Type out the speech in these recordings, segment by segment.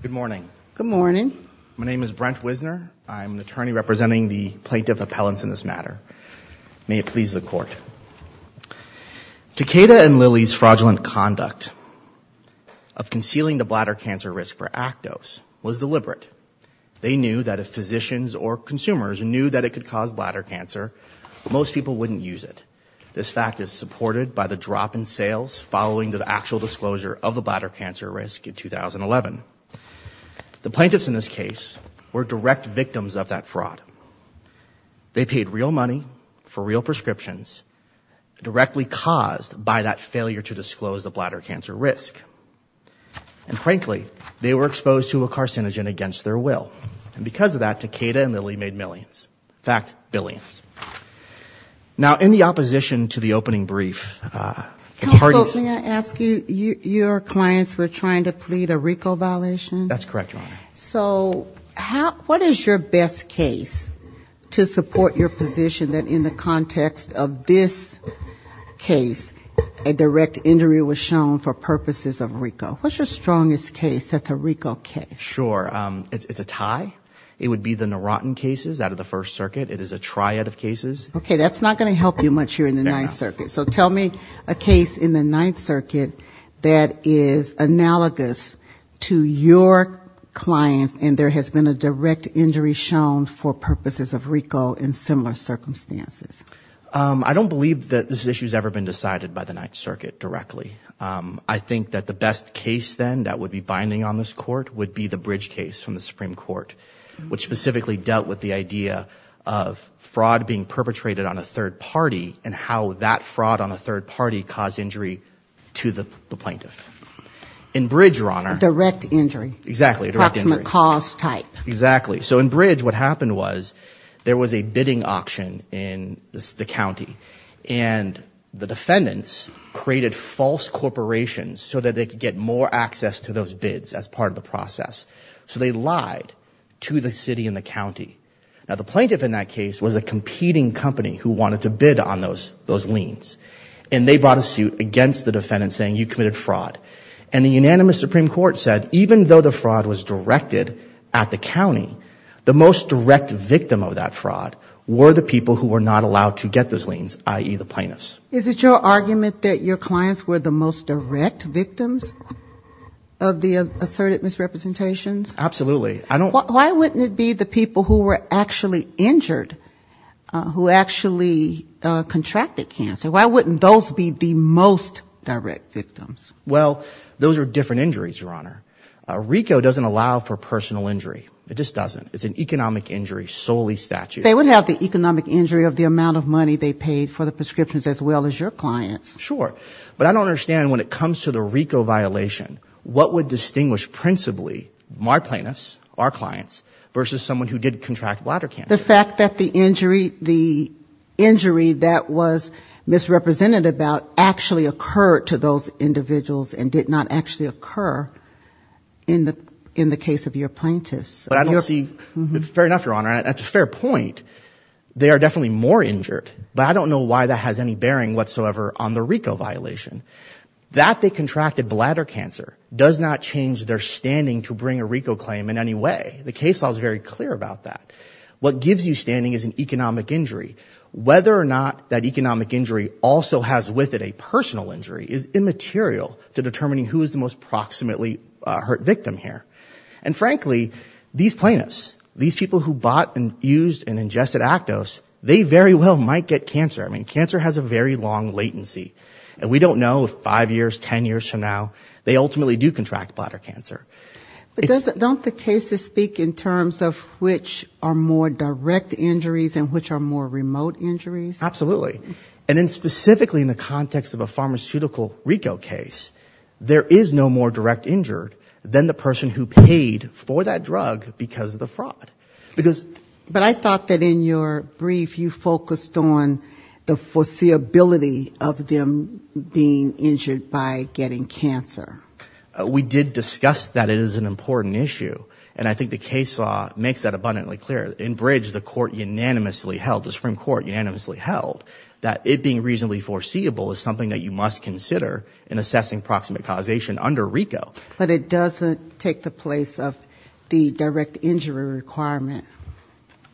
Good morning. Good morning. My name is Brent Wisner. I'm an attorney representing the plaintiff appellants in this matter. May it please the court. Takeda and Lilly's fraudulent conduct of concealing the bladder cancer risk for Actos was deliberate. They knew that if physicians or consumers knew that it could cause bladder cancer, most people wouldn't use it. This fact is supported by the drop in sales following the actual disclosure of the bladder cancer risk in 2011. The plaintiffs in this case were direct victims of that fraud. They paid real money for real prescriptions, directly caused by that failure to disclose the bladder cancer risk. And frankly, they were exposed to a carcinogen against their will. And because of that, Takeda and Lilly made millions. In fact, billions. Now, in the opposition to the opening brief... Counsel, may I ask you, your clients were trying to plead a RICO violation? That's correct, Your Honor. So, what is your best case to support your position that in the context of this case, a direct injury was shown for purposes of RICO? What's your strongest case that's a RICO case? Sure. It's a tie. It would be the Narotan cases out of the First Circuit. It is a variety of cases. Okay, that's not going to help you much here in the Ninth Circuit. So, tell me a case in the Ninth Circuit that is analogous to your clients and there has been a direct injury shown for purposes of RICO in similar circumstances. I don't believe that this issue has ever been decided by the Ninth Circuit directly. I think that the best case then that would be binding on this court would be the fraud being perpetrated on a third party and how that fraud on a third party caused injury to the plaintiff. In Bridge, Your Honor... A direct injury. Exactly. A direct injury. Approximate cause type. Exactly. So, in Bridge, what happened was there was a bidding auction in the county and the defendants created false corporations so that they could get more access to those bids as part of the process. So, they lied to the city and the county. Now, the plaintiff in that case was a competing company who wanted to bid on those those liens and they brought a suit against the defendant saying you committed fraud. And the unanimous Supreme Court said even though the fraud was directed at the county, the most direct victim of that fraud were the people who were not allowed to get those liens, i.e., the plaintiffs. Is it your argument that your clients were the most direct victims of the asserted misrepresentations? Absolutely. I don't... Why wouldn't it be the people who were actually injured who actually contracted cancer? Why wouldn't those be the most direct victims? Well, those are different injuries, Your Honor. RICO doesn't allow for personal injury. It just doesn't. It's an economic injury solely statute. They would have the economic injury of the amount of money they paid for the prescriptions as well as your clients. Sure, but I don't understand when it comes to the RICO violation, what would distinguish principally my plaintiffs, our clients, versus someone who did contract bladder cancer? The fact that the injury that was misrepresented about actually occurred to those individuals and did not actually occur in the case of your plaintiffs. I don't see... Fair enough, Your Honor. That's a fair point. They are definitely more injured, but I don't know why that has any RICO violation. That they contracted bladder cancer does not change their standing to bring a RICO claim in any way. The case law is very clear about that. What gives you standing is an economic injury. Whether or not that economic injury also has with it a personal injury is immaterial to determining who is the most proximately hurt victim here. And frankly, these plaintiffs, these people who bought and used and ingested Actos, they very well might get cancer. I mean, cancer has a very long latency. And we don't know if five years, ten years from now, they ultimately do contract bladder cancer. But don't the cases speak in terms of which are more direct injuries and which are more remote injuries? Absolutely. And then specifically in the context of a pharmaceutical RICO case, there is no more direct injured than the person who paid for that drug because of the fraud. Because... But I thought that in your brief, you focused on the foreseeability of them being injured by getting cancer. We did discuss that it is an important issue. And I think the case law makes that abundantly clear. In Bridge, the court unanimously held, the Supreme Court unanimously held, that it being reasonably foreseeable is something that you must consider in assessing proximate causation under RICO. But it doesn't take the place of the direct injury requirement.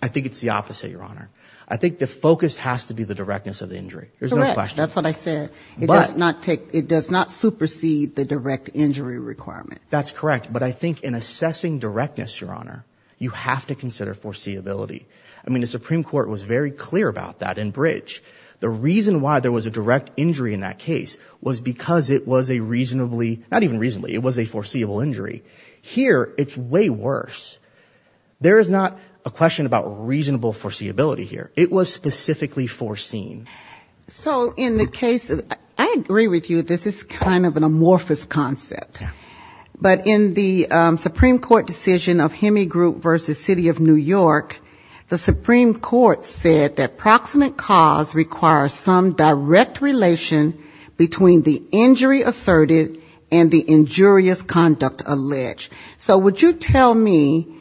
I think it's the opposite, Your Honor. I think the focus has to be the directness of the injury. There's no question. Correct. That's what I said. It does not take, it does not supersede the direct injury requirement. That's correct. But I think in assessing directness, Your Honor, you have to consider foreseeability. I mean, the Supreme Court was very clear about that in Bridge. The reason why there was a direct injury in that case was because it was a reasonably, not even reasonably, it was a foreseeable injury. Here, it's way worse. There is not a question about reasonable foreseeability here. It was specifically foreseen. So in the case of, I agree with you, this is kind of an amorphous concept. But in the Supreme Court decision of Hemigroup v. City of New York, the Supreme Court said that proximate cause requires some direct relation between the injury asserted and the injurious conduct alleged. So would you tell me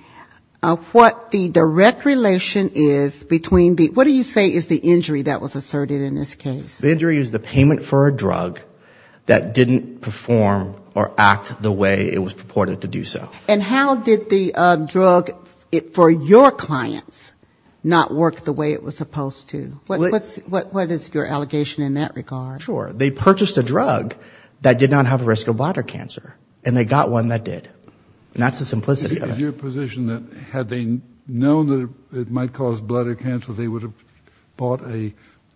what the direct relation is between the, what do you say is the injury that was asserted in this case? The injury is the payment for a drug that didn't perform or act the way it was purported to do so. And how did the drug for your clients not work the way it was supposed to? What is your allegation in that regard? Sure. They purchased a drug that did not have a risk of bladder cancer. And they got one that did. And that's the simplicity of it. Is your position that had they known that it might cause bladder cancer, they would have bought a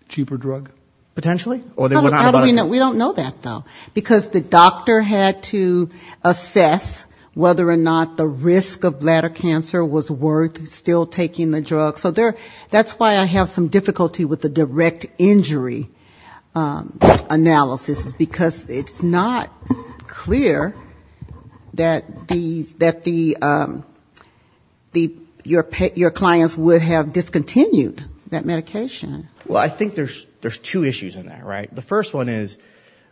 cheaper drug? Potentially. Or they would not have bought a cheaper drug. We don't know that, though. Because the doctor had to assess whether or not the risk of bladder cancer was worth still taking the drug. So that's why I have some difficulty with the direct injury analysis. Because it's not clear that the, that the, your clients would have discontinued that medication. Well, I think there's two issues in that, right? The first one is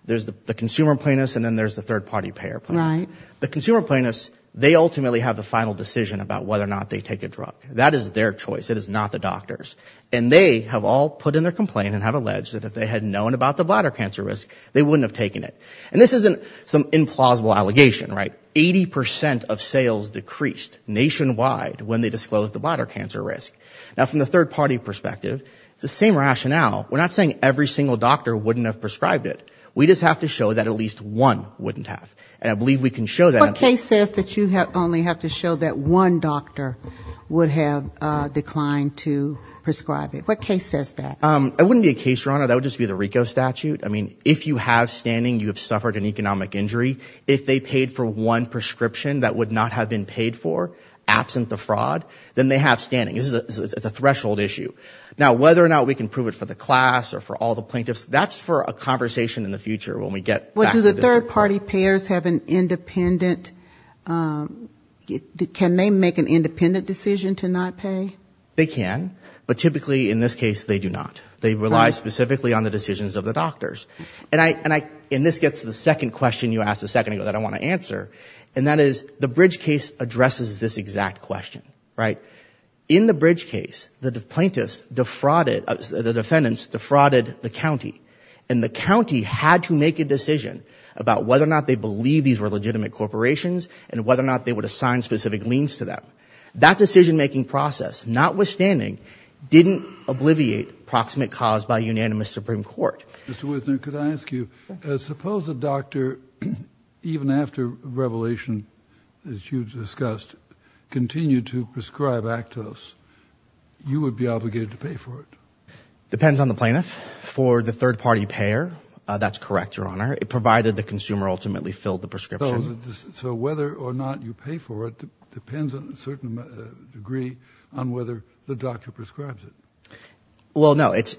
there's the consumer plaintiffs and then there's the third party payer plaintiffs. The consumer plaintiffs, they ultimately have the final decision about whether or not they take a drug. That is their choice. It is not the doctor's. And they have all put in their complaint and have alleged that if they had known about the bladder cancer risk, they wouldn't have taken it. And this isn't some implausible allegation, right? Eighty percent of sales decreased nationwide when they disclosed the bladder cancer risk. Now, from the third party perspective, it's the same rationale. We're not saying every single doctor wouldn't have prescribed it. We just have to show that at least one wouldn't have. And I believe we can show that. What case says that you only have to show that one doctor would have declined to prescribe it? What case says that? It wouldn't be a case, Your Honor. That would just be the RICO statute. I mean, if you have standing, you have suffered an economic injury. If they paid for one prescription that would not have been paid for, absent the fraud, then they have standing. It's a threshold issue. Now, whether or not we can prove it for the class or for all the plaintiffs, that's a different question. Third party payers have an independent, can they make an independent decision to not pay? They can. But typically, in this case, they do not. They rely specifically on the decisions of the doctors. And I, and this gets to the second question you asked a second ago that I want to answer. And that is, the Bridge case addresses this exact question, right? In the Bridge case, the plaintiffs defrauded, the defendants defrauded the county. And the whether or not they believe these were legitimate corporations and whether or not they would assign specific liens to them. That decision-making process, notwithstanding, didn't obliviate proximate cause by unanimous Supreme Court. Mr. Wisner, could I ask you, suppose a doctor, even after revelation, as you discussed, continued to prescribe Actos, you would be obligated to pay for it? Depends on the plaintiff. For the third party payer, that's correct, Your Honor. It provided the consumer ultimately filled the prescription. So whether or not you pay for it depends on a certain degree on whether the doctor prescribes it. Well, no. It's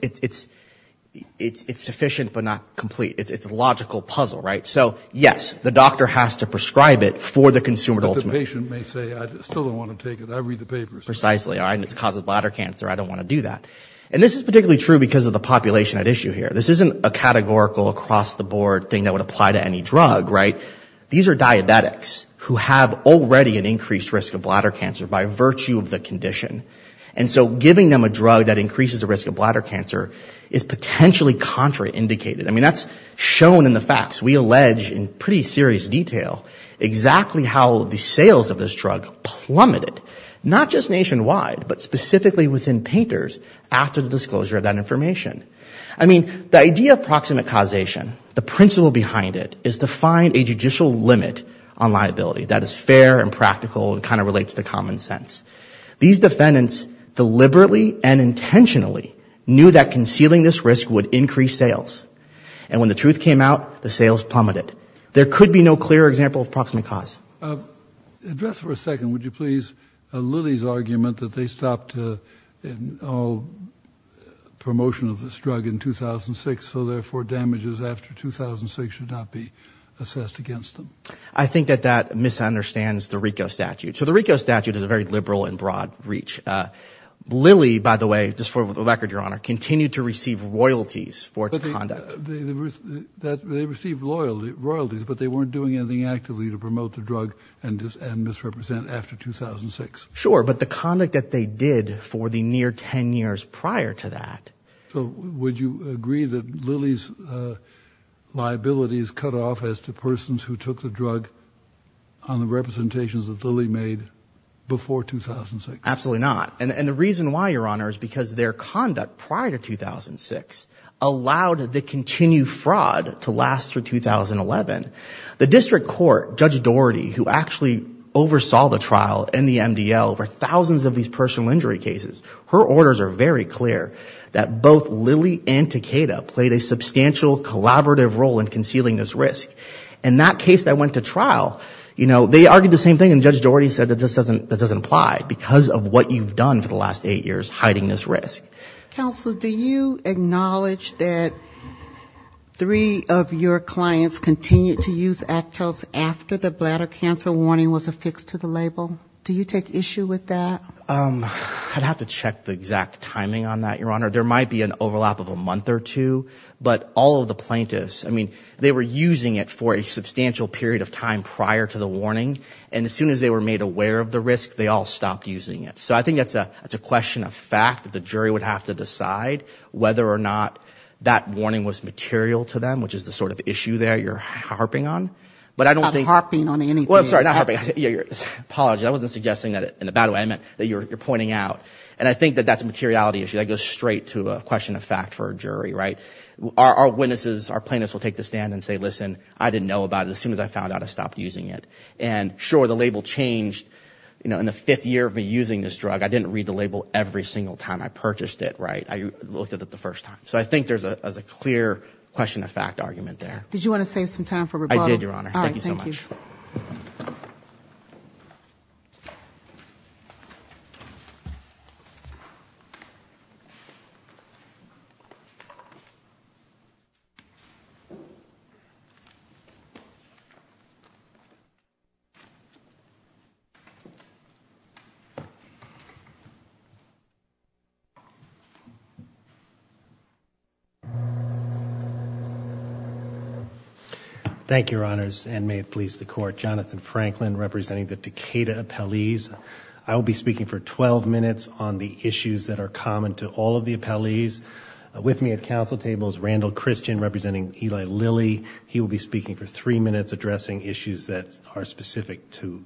sufficient but not complete. It's a logical puzzle, right? So, yes, the doctor has to prescribe it for the consumer. But the patient may say, I still don't want to take it. I read the papers. Precisely. And it causes bladder cancer. I don't want to do that. And this is particularly true because of the population at issue here. This isn't a categorical, across-the-board thing that would apply to any drug, right? These are diabetics who have already an increased risk of bladder cancer by virtue of the condition. And so giving them a drug that increases the risk of bladder cancer is potentially contraindicated. I mean, that's shown in the facts. We allege in pretty serious detail exactly how the sales of this drug plummeted, not just nationwide, but specifically within painters after the disclosure of that information. I mean, the idea of proximate causation, the principle behind it, is to find a judicial limit on liability that is fair and practical and kind of relates to common sense. These defendants deliberately and intentionally knew that concealing this risk would increase sales. And when the truth came out, the sales plummeted. There could be no clearer example of proximate cause. Address for a second, would you please, Lily's argument that they stopped all promotion of this drug in 2006, so therefore damages after 2006 should not be assessed against them. I think that that misunderstands the RICO statute. So the RICO statute is a very liberal and broad reach. Lily, by the way, just for the record, Your Honor, continued to receive royalties for its conduct. They received royalties, but they weren't doing anything actively to promote the drug and misrepresent after 2006. Sure, but the conduct that they did for the near 10 years prior to that. So would you agree that Lily's liabilities cut off as to persons who took the drug on the representations that Lily made before 2006? Absolutely not. And the reason why, Your Honor, is because their conduct prior to 2006 allowed the continued fraud to last through 2011. The district court, Judge Dougherty, who actually oversaw the trial and the MDL for thousands of these personal injury cases, her orders are very clear that both Lily and Takeda played a substantial collaborative role in concealing this risk. In that case that went to trial, you know, they argued the same thing, and Judge Dougherty said that this doesn't apply because of what you've done for the last eight years, hiding this risk. Counsel, do you acknowledge that three of your clients continued to use Actos after the bladder cancer warning was affixed to the label? Do you take issue with that? I'd have to check the exact timing on that, Your Honor. There might be an overlap of a month or two, but all of the plaintiffs, I mean, they were using it for a substantial period of time prior to the warning, and as soon as they were made aware of the risk, they all stopped using it. So I think that's a question of fact, that the jury would have to decide whether or not that warning was material to them, which is the sort of issue there you're harping on, but I don't think... I'm not harping on anything. Well, I'm sorry, not harping. Apologies. I wasn't suggesting that in a bad way. I meant that you're pointing out, and I think that that's a materiality issue that goes straight to a question of fact for a jury, right? Our witnesses, our plaintiffs will take the stand and say, listen, I didn't know about it. As soon as I found out, I stopped using it. Sure, the label changed in the fifth year of me using this drug. I didn't read the label every single time I purchased it, right? I looked at it the first time. So I think there's a clear question of fact argument there. Did you want to save some time for rebuttal? I did, Your Honor. Thank you so much. Thank you, Your Honors, and may it please the Court. Jonathan Franklin representing the Decatur appellees. I will be speaking for 12 minutes on the issues that are common to all of the appellees. With me at council table is Randall Christian representing Eli Lilley. He will be speaking for three minutes addressing issues that are specific to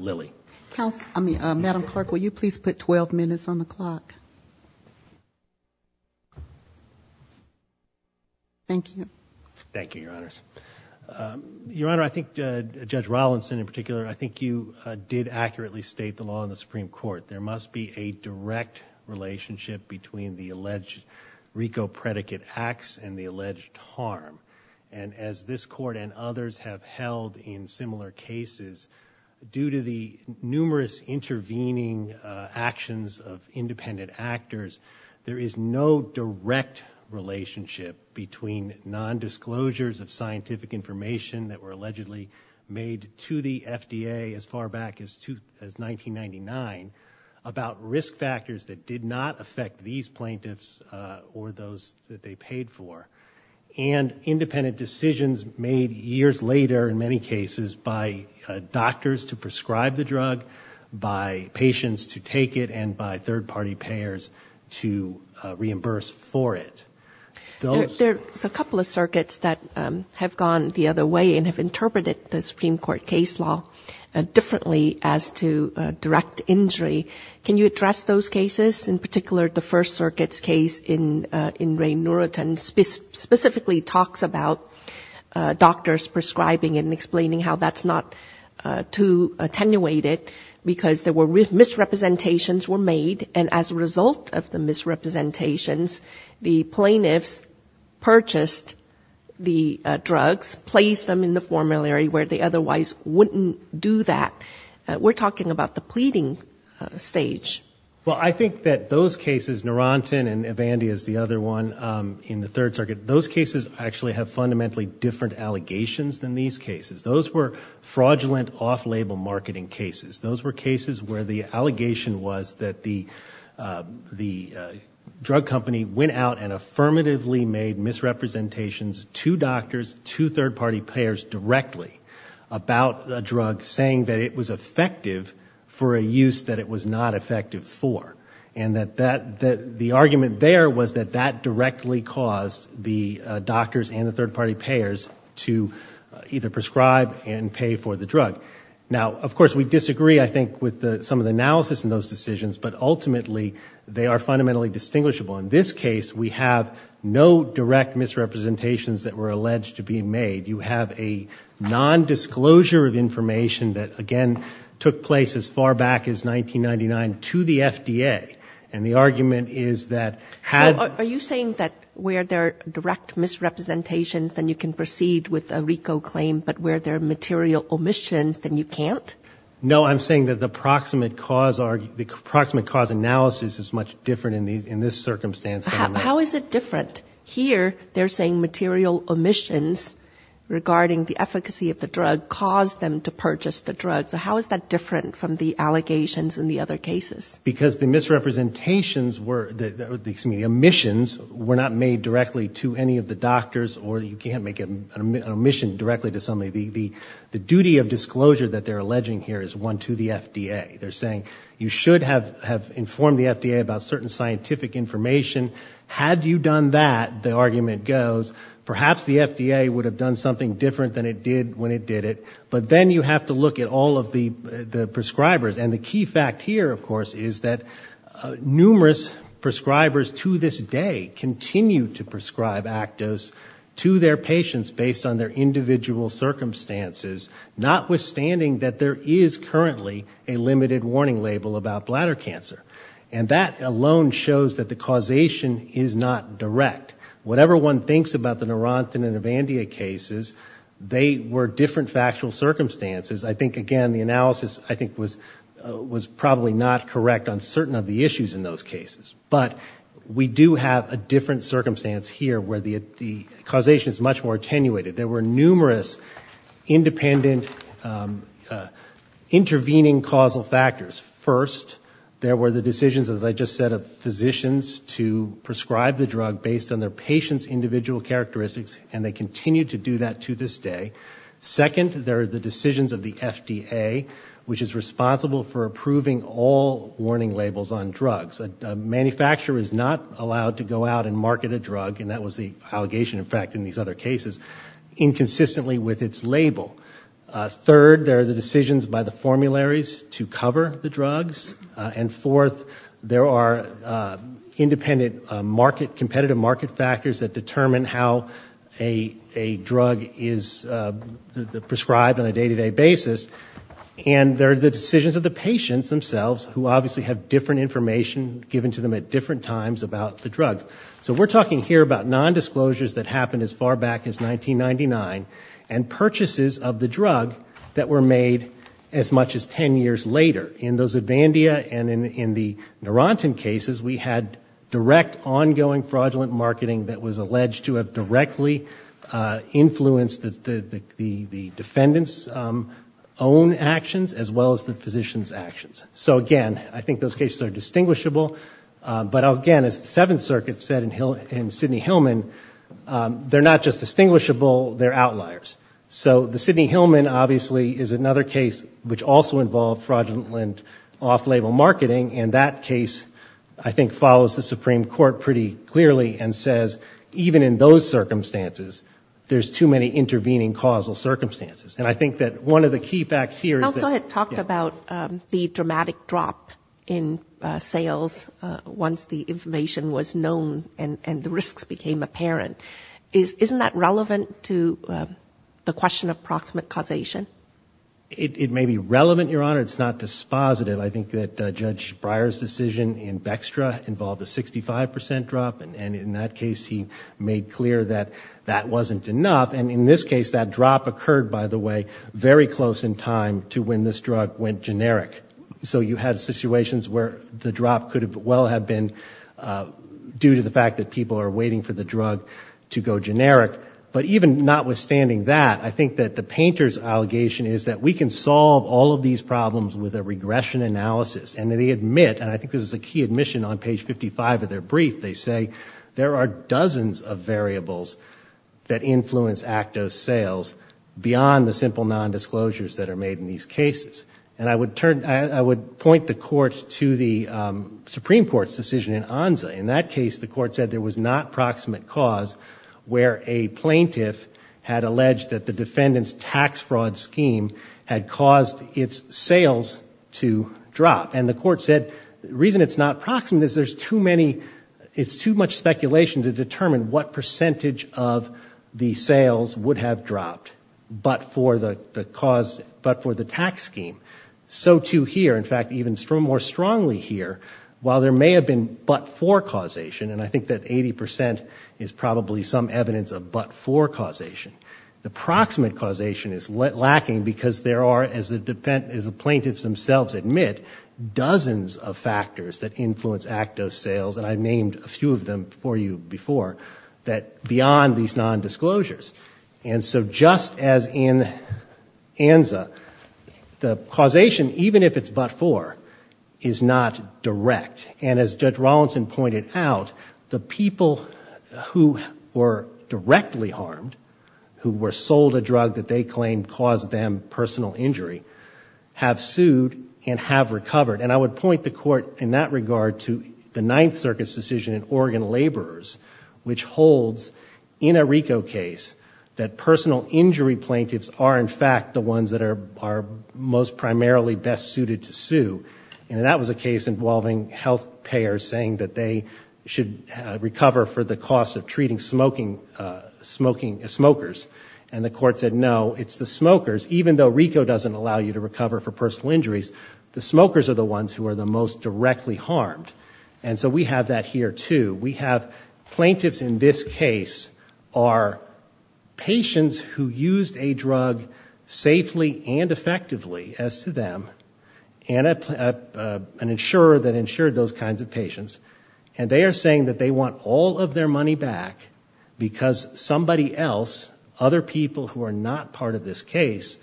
Lilley. Madam Clerk, will you please put 12 minutes on the clock? Thank you. Thank you, Your Honors. Your Honor, I think Judge Rollinson in particular, I think you did accurately state the law in the Supreme Court. There must be a direct relationship between the alleged RICO predicate acts and the alleged harm. As this Court and others have held in similar cases, due to the numerous intervening actions of independent actors, there is no direct relationship between nondisclosures of scientific information that were allegedly made to the FDA as far back as 1999 about risk factors that did not affect these plaintiffs or those that they paid for, and independent decisions made years later in many cases by doctors to prescribe the drug, by patients to take it, and by third-party payers to reimburse for it. There's a couple of circuits that have gone the other way and have interpreted the Supreme Court case law differently as to direct injury. Can you address those cases? In particular, the First Circuit's case in Ray Norton specifically talks about doctors prescribing and explaining how that's not too attenuated because misrepresentations were made, and as a result of the misrepresentations, the plaintiffs purchased the drugs, placed them in the formulary where they otherwise wouldn't do that. We're talking about the pleading stage. Well, I think that those cases, Naranton and Evandy is the other one in the Third Circuit, those cases actually have fundamentally different allegations than these cases. Those were fraudulent off-label marketing cases. Those were cases where the allegation was that the drug company went out and affirmatively made misrepresentations to doctors, to third-party payers directly about a drug, saying that it was effective for a use that it was not effective for, and that the argument there was that that directly caused the doctors and the third-party payers to either prescribe and pay for the drug. Now, of course, we disagree, I think, with some of the analysis in those decisions, but ultimately, they are fundamentally distinguishable. In this case, we have no direct misrepresentations that were alleged to be made. You have a nondisclosure of information that, again, took place as far back as 1999 to the FDA, and the argument is that had... So, are you saying that where there are direct misrepresentations, then you can proceed with a RICO claim, but where there are material omissions, then you can't? No, I'm saying that the approximate cause analysis is much different in this circumstance than in this. How is it different? Here, they're saying material omissions regarding the efficacy of the drug caused them to purchase the drug, so how is that different from the allegations in the other cases? Because the misrepresentations were... Excuse me, omissions were not made directly to any of the doctors, or you can't make an omission directly to somebody. The duty of disclosure that they're alleging here is one to the FDA. They're saying you should have informed the FDA about certain scientific information. Had you done that, the argument goes, perhaps the FDA would have done something different than it did when it did it, but then you have to look at all of the prescribers, and the key fact here, of course, is that numerous prescribers to this day continue to prescribe Actos to their patients based on their individual circumstances, notwithstanding that there is currently a limited warning label about bladder cancer, and that alone shows that the causation is not direct. Whatever one thinks about the Narantan and Avandia cases, they were different factual circumstances. I think, again, the analysis, I think, was probably not correct on certain of the issues in those cases, but we do have a different circumstance here where the causation is much more attenuated. There were numerous independent, intervening causal factors. First, there were the decisions, as I just said, of physicians to prescribe the drug based on their patient's individual characteristics, and they continue to do that to this day. Second, there are the decisions of the FDA, which is responsible for approving all warning labels on drugs. A manufacturer is not allowed to go out and market a drug, and that was the allegation, in fact, in these other cases, inconsistently with its label. Third, there are the decisions by the formularies to cover the drugs. And fourth, there are independent market, competitive market factors that determine how a drug is prescribed on a day-to-day basis. And there are the decisions of the patients themselves, who obviously have different information given to them at different times about the drugs. So we're talking here about nondisclosures that happened as far back as 1999, and purchases of the drug that were made as much as ten years later. In the Zubandia and in the Narantan cases, we had direct, ongoing fraudulent marketing that was alleged to have directly influenced the defendant's own actions, as well as the physician's actions. So again, I think those in Sidney Hillman, they're not just distinguishable, they're outliers. So the Sidney Hillman, obviously, is another case which also involved fraudulent off-label marketing, and that case, I think, follows the Supreme Court pretty clearly and says, even in those circumstances, there's too many intervening causal circumstances. And I think that one of the key facts here is that... As the information was known and the risks became apparent, isn't that relevant to the question of proximate causation? It may be relevant, Your Honor. It's not dispositive. I think that Judge Breyer's decision in Bextra involved a 65% drop, and in that case, he made clear that that wasn't enough. And in this case, that drop occurred, by the way, very close in time to when this drug went generic. So you had situations where the drop could well have been due to the fact that people are waiting for the drug to go generic. But even notwithstanding that, I think that the painter's allegation is that we can solve all of these problems with a regression analysis. And they admit, and I think this is a key admission on page 55 of their brief, they say, there are dozens of variables that influence ACTO sales beyond the simple nondisclosures that are made in these cases. And I would point the Court to the Supreme Court's decision in Anza. In that case, the Court said there was not proximate cause where a plaintiff had alleged that the defendant's tax fraud scheme had caused its sales to drop. And the Court said the reason it's not proximate is there's too many... It's too much speculation to determine what percentage of the sales would have dropped but for the tax scheme. So too here, in fact, even more strongly here, while there may have been but-for causation, and I think that 80 percent is probably some evidence of but-for causation, the proximate causation is lacking because there are, as the plaintiffs themselves admit, dozens of factors that influence ACTO sales, and I've And so just as in Anza, the causation, even if it's but-for, is not direct. And as Judge Rawlinson pointed out, the people who were directly harmed, who were sold a drug that they claimed caused them personal injury, have sued and have recovered. And I would point the Court in that regard to the Ninth Circuit's decision in Oregon Laborers, which that personal injury plaintiffs are, in fact, the ones that are most primarily best suited to sue. And that was a case involving health payers saying that they should recover for the cost of treating smokers. And the Court said, no, it's the smokers. Even though RICO doesn't allow you to recover for personal injuries, the smokers are the ones who are the most directly harmed. And so we have that here, too. We have plaintiffs in this case are patients who used a drug safely and effectively, as to them, and an insurer that insured those kinds of patients. And they are saying that they want all of their money back because somebody else, other people who are not part of this case,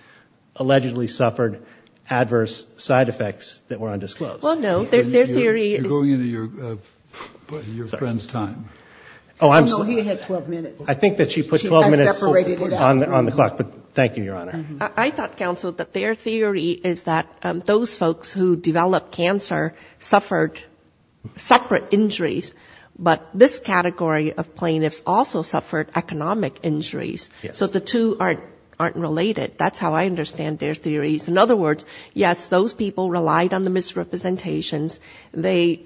allegedly suffered adverse side effects that were undisclosed. Well, no, their theory is... You're going into your friend's time. Oh, no, he had 12 minutes. I think that she put 12 minutes on the clock. But thank you, Your Honor. I thought, counsel, that their theory is that those folks who developed cancer suffered separate injuries, but this category of plaintiffs also suffered economic injuries. So the two aren't related. That's how I understand their theories. In other words, yes, those people relied on the misrepresentations. They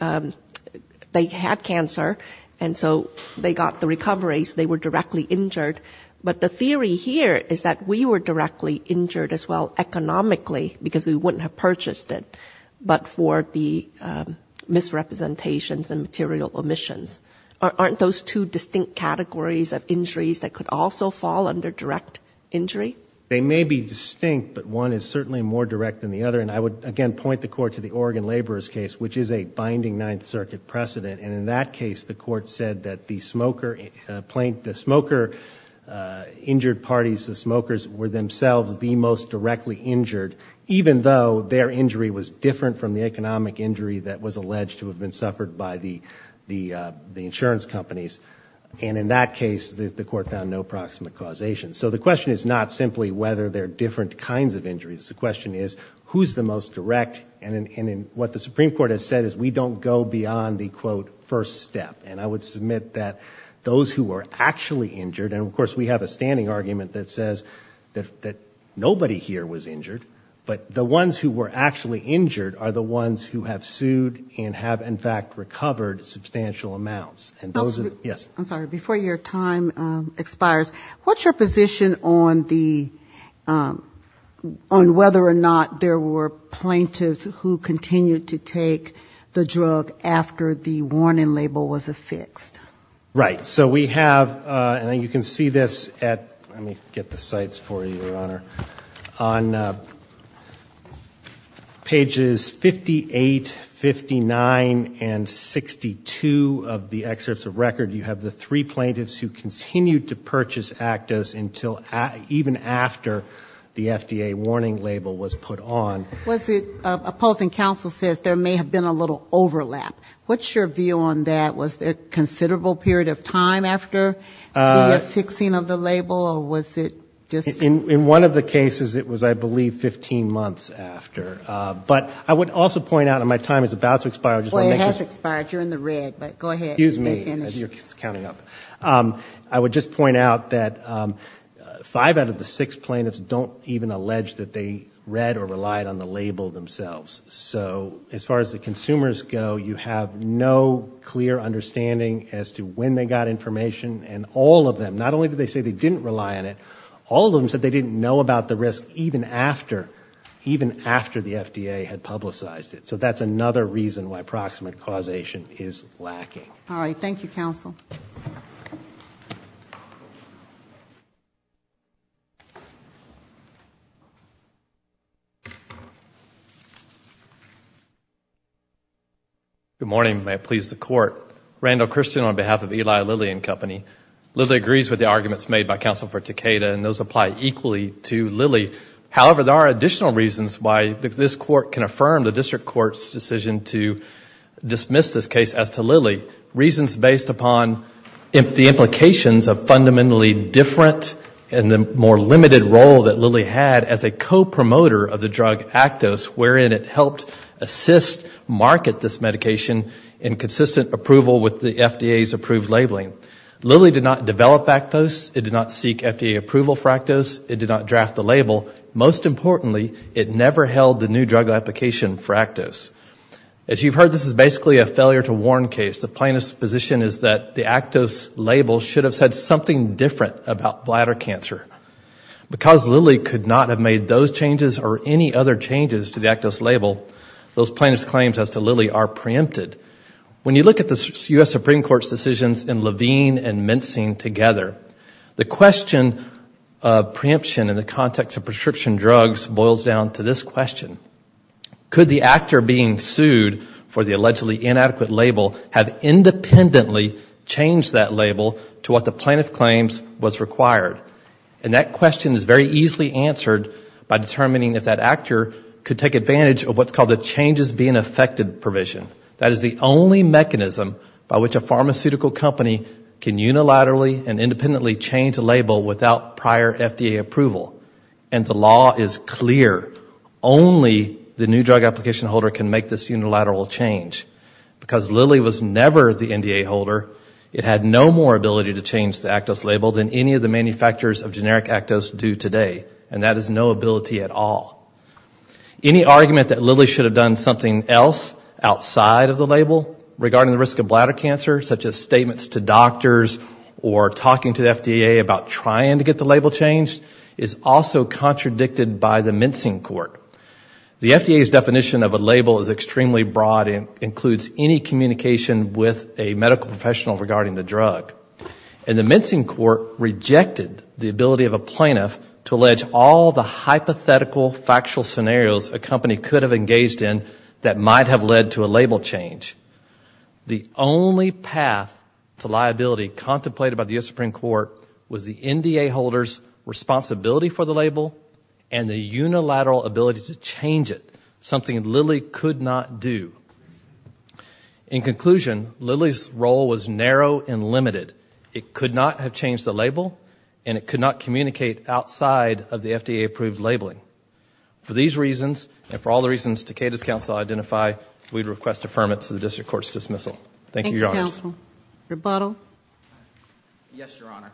had cancer, and so they got the recovery, so they were directly injured. But the theory here is that we were directly injured as well economically, because we wouldn't have purchased it, but for the misrepresentations and material omissions. Aren't those two distinct categories of injuries that could also fall under direct injury? They may be distinct, but one is certainly more direct than the other. I would, again, point the court to the Oregon laborers case, which is a binding Ninth Circuit precedent. In that case, the court said that the smoker-injured parties, the smokers, were themselves the most directly injured, even though their injury was different from the economic injury that was alleged to have been suffered by the insurance companies. In that case, the court found no approximate causation. So the question is not simply whether there are different kinds of injuries. The question is, who's the most direct? And what the Supreme Court has said is we don't go beyond the, quote, first step. And I would submit that those who were actually injured, and of course we have a standing argument that says that nobody here was injured, but the ones who were actually injured are the ones who have sued and have, in fact, expired. What's your position on the, on whether or not there were plaintiffs who continued to take the drug after the warning label was affixed? Right. So we have, and you can see this at, let me get the sites for you, Your Honor. On pages 58, 59, and 62 of the excerpts of record, you have the three plaintiffs who continued to purchase Actos until, even after the FDA warning label was put on. Was it, opposing counsel says there may have been a little overlap. What's your view on that? Was there a considerable period of time after the affixing of the label, or was it just... In one of the cases, it was, I believe, 15 months after. But I would also point out, and my time is about to expire, I just want to make this... Well, it has expired. You're in the red, but go ahead. Excuse me, as you're counting up. I would just point out that five out of the six plaintiffs don't even allege that they read or relied on the label themselves. So as far as the consumers go, you have no clear understanding as to when they got information. And all of them, not only did they say they didn't rely on it, all of them said they didn't know about the risk even after, even after the FDA had publicized it. So that's another reason why All right. Thank you, counsel. Good morning. May it please the Court. Randall Christian on behalf of Eli Lilly and Company. Lilly agrees with the arguments made by Counsel for Takeda, and those apply equally to Lilly. However, there are additional reasons why this Court can affirm the District Court's decision to dismiss this case as to Lilly. Reasons based upon the implications of fundamentally different and the more limited role that Lilly had as a co-promoter of the drug Actos, wherein it helped assist, market this medication in consistent approval with the FDA's approved labeling. Lilly did not develop Actos. It did not seek FDA approval for Actos. It did not draft the label. Most importantly, it never held the new drug application for Actos. As you've heard, this is basically a failure to warn case. The plaintiff's position is that the Actos label should have said something different about bladder cancer. Because Lilly could not have made those changes or any other changes to the Actos label, those plaintiff's claims as to Lilly are preempted. When you look at the U.S. Supreme Court's decisions in Levine and Minstein together, the question of preemption in the context of prescription drugs boils down to this question. Could the actor being sued for the allegedly inadequate label have independently changed that label to what the plaintiff claims was required? And that question is very easily answered by determining if that actor could take advantage of what's called the changes being affected provision. That is the only mechanism by which a pharmaceutical company can unilaterally and independently change a label without prior FDA approval. And the law is clear. Only the new drug application holder can make this unilateral change. Because Lilly was never the NDA holder, it had no more ability to change the Actos label than any of the manufacturers of generic Actos do today. And that is no ability at all. Any argument that Lilly should have done something else outside of the label regarding the risk of bladder cancer, such as statements to doctors or talking to the FDA about trying to get the label changed, is also contradicted by the mincing court. The FDA's definition of a label is extremely broad and includes any communication with a medical professional regarding the drug. And the mincing court rejected the ability of a plaintiff to allege all the hypothetical, factual scenarios a company could have engaged in that might have led to a label change. The only path to liability contemplated by the U.S. Supreme Court was the NDA holder's responsibility for the label and the unilateral ability to change it, something Lilly could not do. In conclusion, Lilly's role was narrow and limited. It could not have changed the label and it could not communicate outside of the FDA approved labeling. For these reasons and for all the reasons Takeda's counsel identified, we request affirmance of the district court's dismissal. Thank you, Your Honors. Thank you, counsel. Rebuttal? Yes, Your Honor.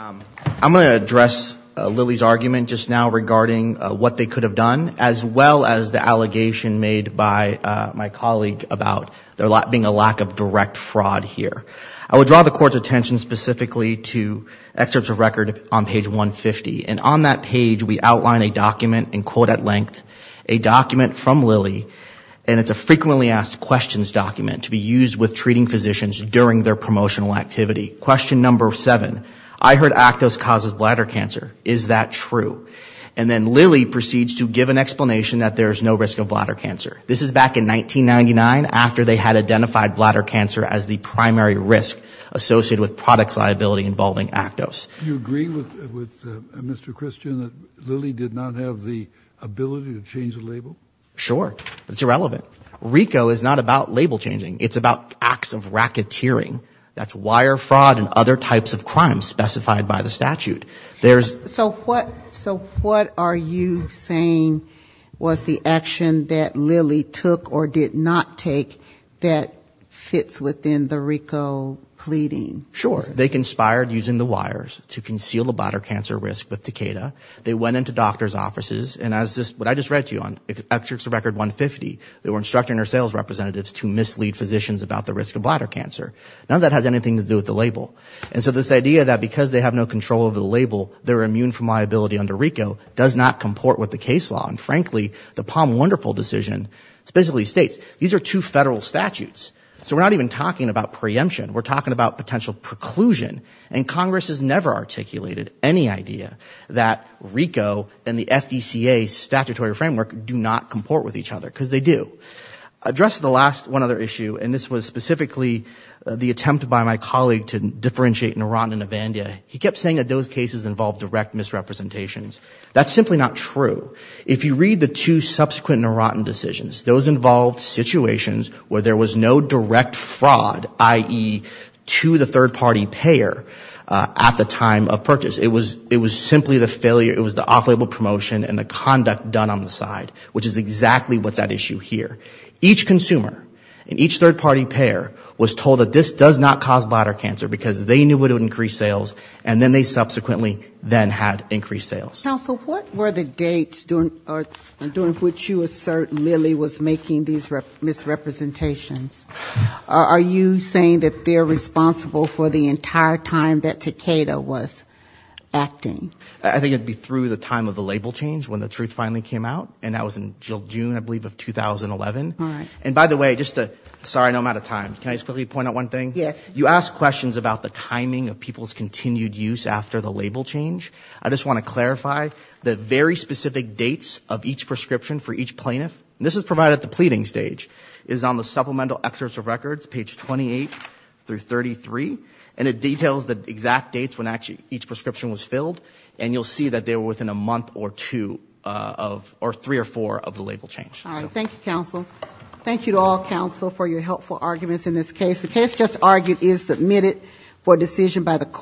I'm going to address Lilly's argument just now regarding what they could have done, as well as the allegation made by my colleague about there being a lack of direct fraud here. I would draw the court's attention specifically to excerpts of record on page 150. And on that page, we outline a document, in quote at length, a document from Lilly, and it's a frequently asked questions document to be used with treating physicians during their promotional activity. Question number seven, I heard Actos causes bladder cancer. Is that true? And then Lilly proceeds to give an explanation that there's no risk of bladder cancer. This is back in 1999, after they had identified bladder cancer as the primary risk associated with product's liability involving Actos. Do you agree with Mr. Christian that Lilly did not have the ability to change the label? Sure. It's irrelevant. RICO is not about label changing. It's about acts of racketeering. That's wire fraud and other types of crimes specified by the statute. So what are you saying was the action that Lilly took or did not take that fits within the RICO pleading? Sure. They conspired using the wires to conceal the bladder cancer risk with Takeda. They went into doctor's offices and as I just read to you on excerpts of record 150, they were instructing their sales representatives to mislead physicians about the risk of bladder cancer. None of that has anything to do with the label. And so this idea that because they have no control over the label, they're immune from liability under RICO does not comport with the case law. And frankly, the Palm Wonderful decision specifically states these are two federal statutes. So we're not even talking about preemption. We're talking about potential preclusion. And Congress has never articulated any idea that RICO and the FDCA statutory framework do not comport with each other, because they do. Addressing the last one other issue, and this was specifically the attempt by my colleague to differentiate Neurontinibandia, he kept saying that those cases involved direct misrepresentations. That's simply not true. If you read the two subsequent Neurontin decisions, those involved situations where there was no direct fraud, i.e., to the third party payer at the time of purchase. It was simply the failure, it was the off-label promotion and the conduct done on the side, which is exactly what's at issue here. Each consumer and each third party payer was told that this does not cause bladder cancer, because they knew it would increase sales, and then they subsequently then had increased sales. Are you saying that they're responsible for the entire time that Takeda was acting? I think it would be through the time of the label change, when the truth finally came out, and that was in June, I believe, of 2011. And by the way, just to, sorry, I know I'm out of time. Can I just quickly point out one thing? Yes. You asked questions about the timing of people's continued use after the label change. I just want to clarify that very specific dates of each prescription for each plaintiff, and this is provided at the pleading stage, is on the supplemental excerpts of records, page 28 through 33, and it details the exact dates when actually each prescription was filled, and you'll see that they were within a month or two of, or three or four of the label change. All right. Thank you, counsel. Thank you to all counsel for your helpful arguments in this case. The case just argued is submitted for decision by the court.